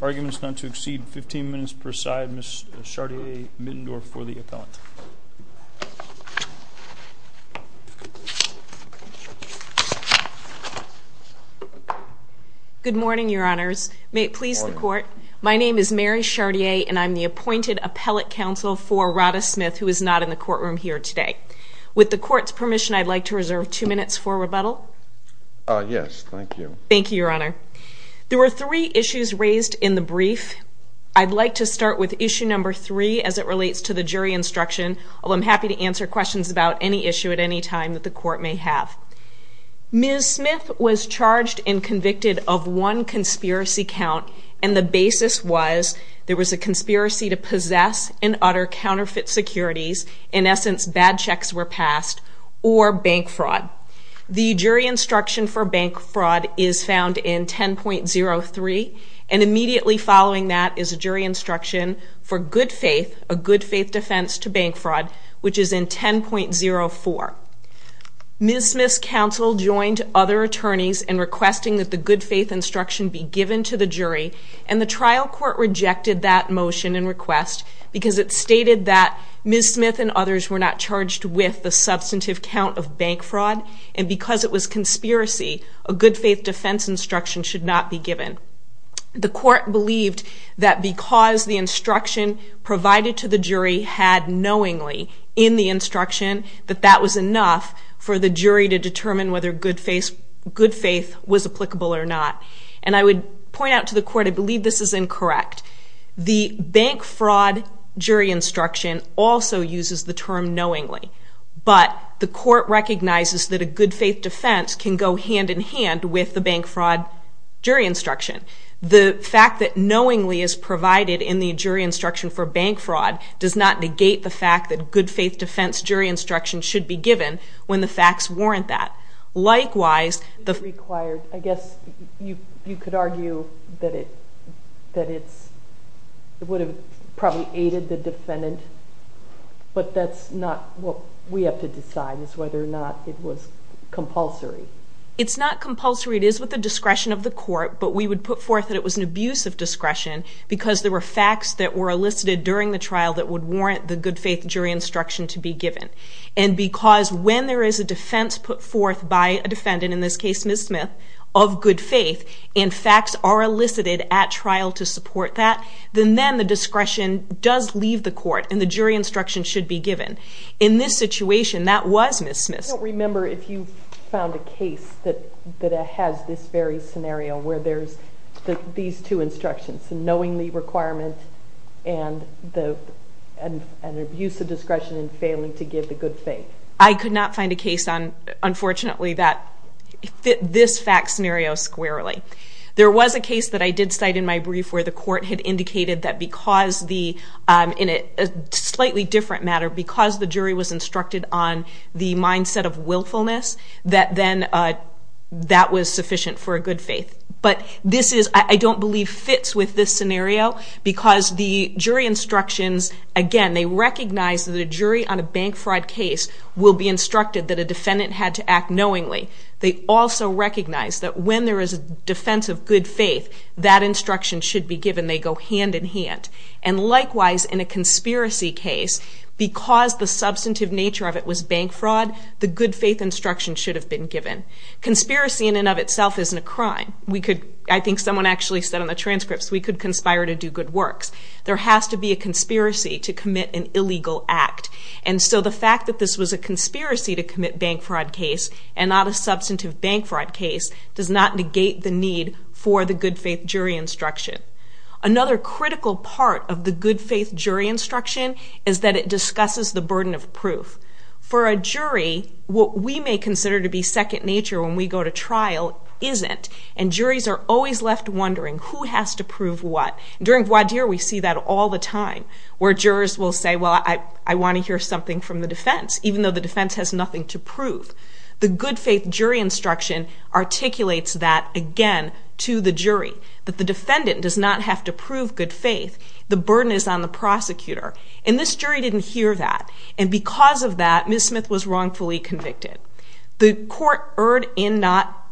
Arguments not to exceed 15 minutes per side, Ms. Chartier-Mittendorf for the appellant. Good morning, your honors. May it please the court, my name is Mary Chartier and I'm the appointed appellate counsel for Rhada Smith, who is not in the courtroom here today. With the court's permission, I'd like to reserve two minutes for rebuttal. Yes, thank you. Thank you, your honor. There were three issues raised in the brief. I'd like to start with issue number three as it relates to the jury instruction, although I'm happy to answer questions about any issue at any time that the court may have. Ms. Smith was charged and convicted of one conspiracy count, and the basis was there was a conspiracy to possess and utter counterfeit securities, in essence bad checks were passed, or bank fraud. The jury instruction for bank fraud is found in 10.03, and immediately following that is a jury instruction for good faith, a good faith defense to bank fraud, which is in 10.04. Ms. Smith's counsel joined other attorneys in requesting that the good faith instruction be given to the jury, and the trial court rejected that motion and request because it stated that Ms. Smith and others were not charged with the substantive count of bank fraud, and because it was conspiracy, a good faith defense instruction should not be given. The court believed that because the instruction provided to the jury had knowingly in the instruction, that that was enough for the jury to determine whether good faith was applicable or not. And I would point out to the court, I believe this is incorrect. The bank fraud jury instruction also uses the term knowingly, but the court recognizes that a good faith defense can go hand in hand with the bank fraud jury instruction. The fact that knowingly is provided in the jury instruction for bank fraud does not negate the fact that good faith defense jury instruction should be given when the facts warrant that. I guess you could argue that it would have probably aided the defendant, but that's not what we have to decide is whether or not it was compulsory. It's not compulsory, it is with the discretion of the court, but we would put forth that it was an abuse of discretion because there were facts that were elicited during the trial that would warrant the good faith jury instruction to be given. And because when there is a defense put forth by a defendant, in this case Ms. Smith, of good faith and facts are elicited at trial to support that, then the discretion does leave the court and the jury instruction should be given. In this situation, that was Ms. Smith. I don't remember if you found a case that has this very scenario where there's these two instructions, knowingly requirement and an abuse of discretion in failing to give the good faith. I could not find a case, unfortunately, that fit this fact scenario squarely. There was a case that I did cite in my brief where the court had indicated that because the, in a slightly different matter, because the jury was instructed on the mindset of willfulness, that then that was sufficient for a good faith. But this is, I don't believe, fits with this scenario because the jury instructions, again, they recognize that a jury on a bank fraud case will be instructed that a defendant had to act knowingly. They also recognize that when there is a defense of good faith, that instruction should be given. They go hand in hand. And likewise, in a conspiracy case, because the substantive nature of it was bank fraud, the good faith instruction should have been given. Conspiracy in and of itself isn't a crime. We could, I think someone actually said on the transcripts, we could conspire to do good works. There has to be a conspiracy to commit an illegal act. And so the fact that this was a conspiracy to commit bank fraud case and not a substantive bank fraud case does not negate the need for the good faith jury instruction. Another critical part of the good faith jury instruction is that it discusses the burden of proof. For a jury, what we may consider to be second nature when we go to trial isn't. And juries are always left wondering who has to prove what. During voir dire, we see that all the time where jurors will say, well, I want to hear something from the defense, even though the defense has nothing to prove. The good faith jury instruction articulates that, again, to the jury, that the defendant does not have to prove good faith. The burden is on the prosecutor. And this jury didn't hear that. And because of that, Ms. Smith was wrongfully convicted. The court erred in not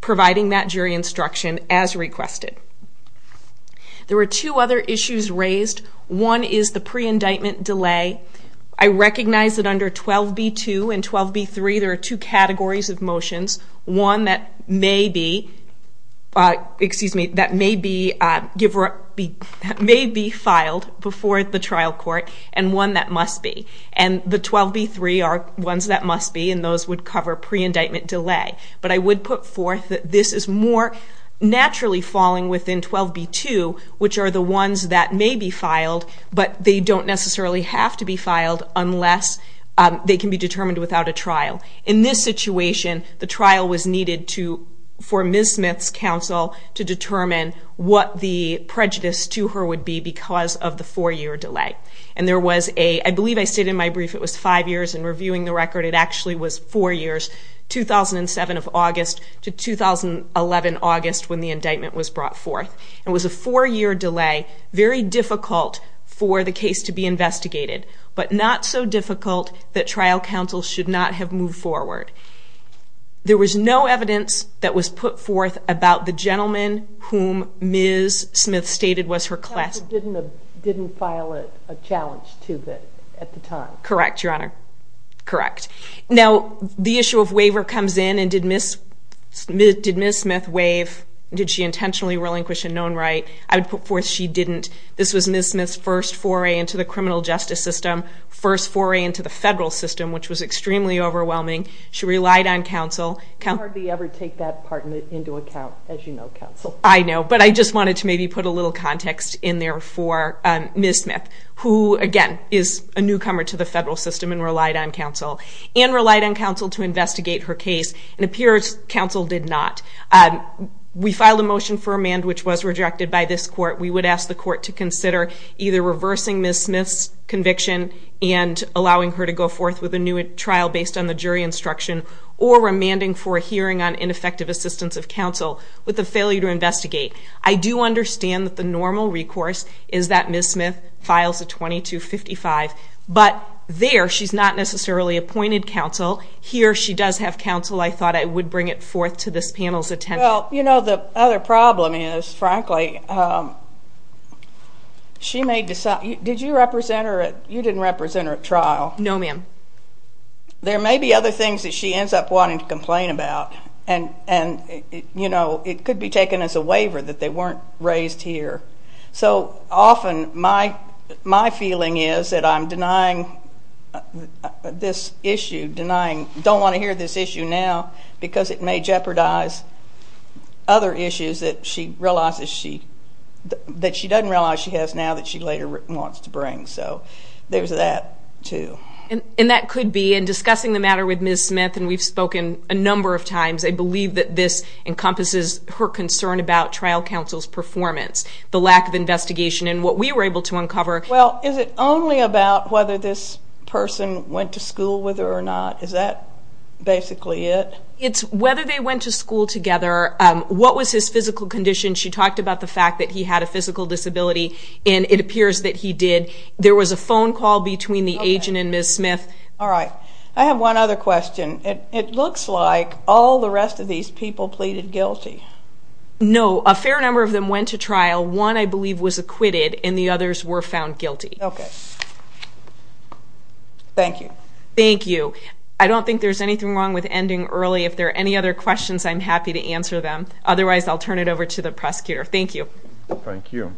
providing that jury instruction as requested. There were two other issues raised. One is the pre-indictment delay. I recognize that under 12b-2 and 12b-3, there are two categories of motions, one that may be filed before the trial court and one that must be. And the 12b-3 are ones that must be, and those would cover pre-indictment delay. But I would put forth that this is more naturally falling within 12b-2, which are the ones that may be filed, but they don't necessarily have to be filed unless they can be determined without a trial. In this situation, the trial was needed for Ms. Smith's counsel to determine what the prejudice to her would be because of the four-year delay. I believe I stated in my brief it was five years, and reviewing the record, it actually was four years, 2007 of August to 2011 August, when the indictment was brought forth. It was a four-year delay, very difficult for the case to be investigated, but not so difficult that trial counsel should not have moved forward. There was no evidence that was put forth about the gentleman whom Ms. Smith stated was her classmate. Counsel didn't file a challenge to that at the time. Correct, Your Honor, correct. Now, the issue of waiver comes in, and did Ms. Smith waive? Did she intentionally relinquish a known right? I would put forth she didn't. This was Ms. Smith's first foray into the criminal justice system, first foray into the federal system, which was extremely overwhelming. She relied on counsel. I hardly ever take that part into account, as you know, counsel. I know, but I just wanted to maybe put a little context in there for Ms. Smith, who, again, is a newcomer to the federal system and relied on counsel, and relied on counsel to investigate her case. It appears counsel did not. We filed a motion for amend, which was rejected by this court. We would ask the court to consider either reversing Ms. Smith's conviction and allowing her to go forth with a new trial based on the jury instruction, or remanding for a hearing on ineffective assistance of counsel with the failure to investigate. I do understand that the normal recourse is that Ms. Smith files a 2255, but there she's not necessarily appointed counsel. Here she does have counsel. I thought I would bring it forth to this panel's attention. Well, you know, the other problem is, frankly, she may decide you didn't represent her at trial. No, ma'am. There may be other things that she ends up wanting to complain about, and, you know, it could be taken as a waiver that they weren't raised here. So often my feeling is that I'm denying this issue, don't want to hear this issue now because it may jeopardize other issues that she doesn't realize she has now that she later wants to bring. So there's that, too. And that could be, in discussing the matter with Ms. Smith, and we've spoken a number of times, I believe that this encompasses her concern about trial counsel's performance, the lack of investigation, and what we were able to uncover. Well, is it only about whether this person went to school with her or not? Is that basically it? It's whether they went to school together, what was his physical condition. She talked about the fact that he had a physical disability, and it appears that he did. There was a phone call between the agent and Ms. Smith. All right. I have one other question. It looks like all the rest of these people pleaded guilty. No, a fair number of them went to trial. One, I believe, was acquitted, and the others were found guilty. Okay. Thank you. Thank you. I don't think there's anything wrong with ending early. If there are any other questions, I'm happy to answer them. Otherwise, I'll turn it over to the prosecutor. Thank you. Thank you.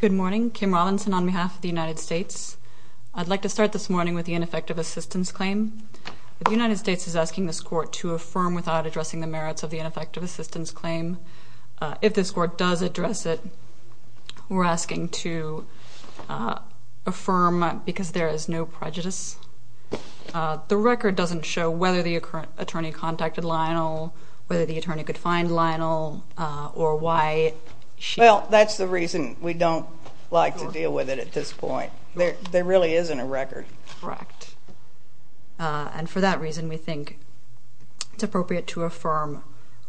Good morning. Kim Robinson on behalf of the United States. I'd like to start this morning with the ineffective assistance claim. The United States is asking this court to affirm without addressing the merits of the ineffective assistance claim. If this court does address it, we're asking to affirm because there is no prejudice. The record doesn't show whether the attorney contacted Lionel, whether the attorney could find Lionel, or why she did. Well, that's the reason we don't like to deal with it at this point. There really isn't a record. Correct. And for that reason, we think it's appropriate to affirm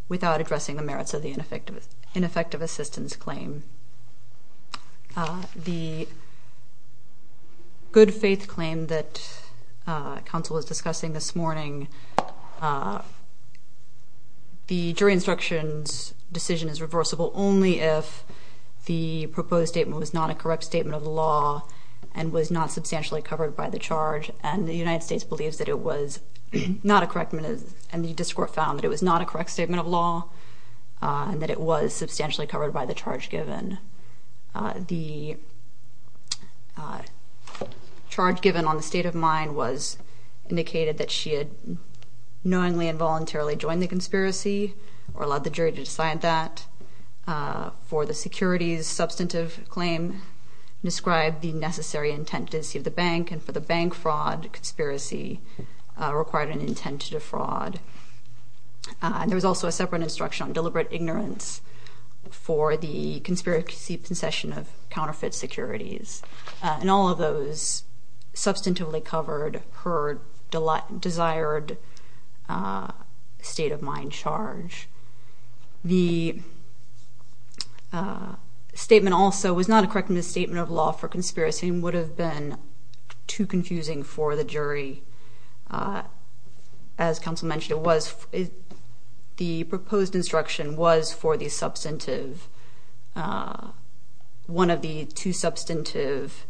without addressing the merits of the ineffective assistance claim. The good faith claim that counsel was discussing this morning, the jury instruction's decision is reversible only if the proposed statement was not a correct statement of law and was not substantially covered by the charge, and the United States believes that it was not a correct statement, and the district court found that it was not a correct statement of law and that it was substantially covered by the charge given. The charge given on the state of mind was indicated that she had knowingly and voluntarily joined the conspiracy or allowed the jury to decide that. For the securities, substantive claim described the necessary intent to deceive the bank, and for the bank fraud conspiracy, required an intent to defraud. There was also a separate instruction on deliberate ignorance for the conspiracy possession of counterfeit securities, and all of those substantively covered her desired state of mind charge. The statement also was not a correct misstatement of law for conspiracy and would have been too confusing for the jury. As counsel mentioned, the proposed instruction was for the substantive, one of the two substantive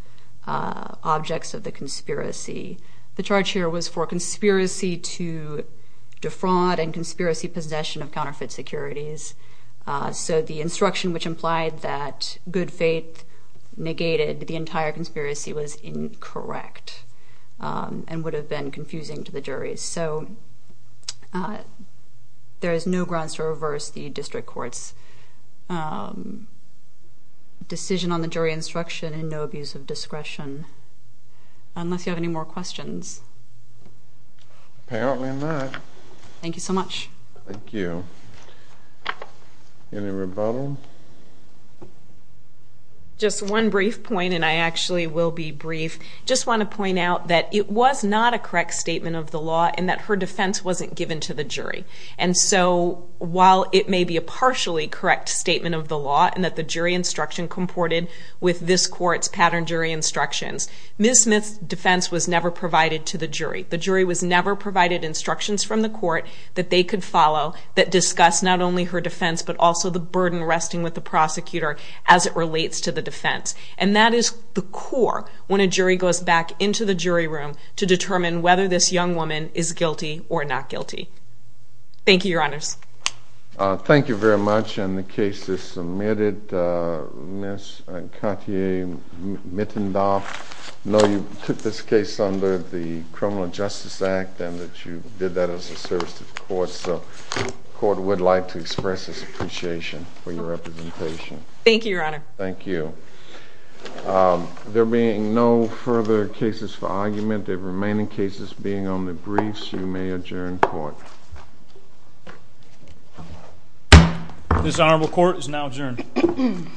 objects of the conspiracy. The charge here was for conspiracy to defraud and conspiracy possession of counterfeit securities. So the instruction which implied that good faith negated the entire conspiracy was incorrect and would have been confusing to the jury. So there is no grounds to reverse the district court's decision on the jury instruction and no abuse of discretion, unless you have any more questions. Apparently not. Thank you so much. Thank you. Any rebuttal? Just one brief point, and I actually will be brief. I just want to point out that it was not a correct statement of the law and that her defense wasn't given to the jury. And so while it may be a partially correct statement of the law and that the jury instruction comported with this court's pattern jury instructions, Ms. Smith's defense was never provided to the jury. The jury was never provided instructions from the court that they could follow that discussed not only her defense but also the burden resting with the prosecutor as it relates to the defense. And that is the core when a jury goes back into the jury room to determine whether this young woman is guilty or not guilty. Thank you, Your Honors. Thank you very much. And the case is submitted. Ms. Cotier-Mittendorf, I know you took this case under the Criminal Justice Act and that you did that as a service to the court, so the court would like to express its appreciation for your representation. Thank you, Your Honor. Thank you. There being no further cases for argument, the remaining cases being on the briefs, you may adjourn court. This honorable court is now adjourned.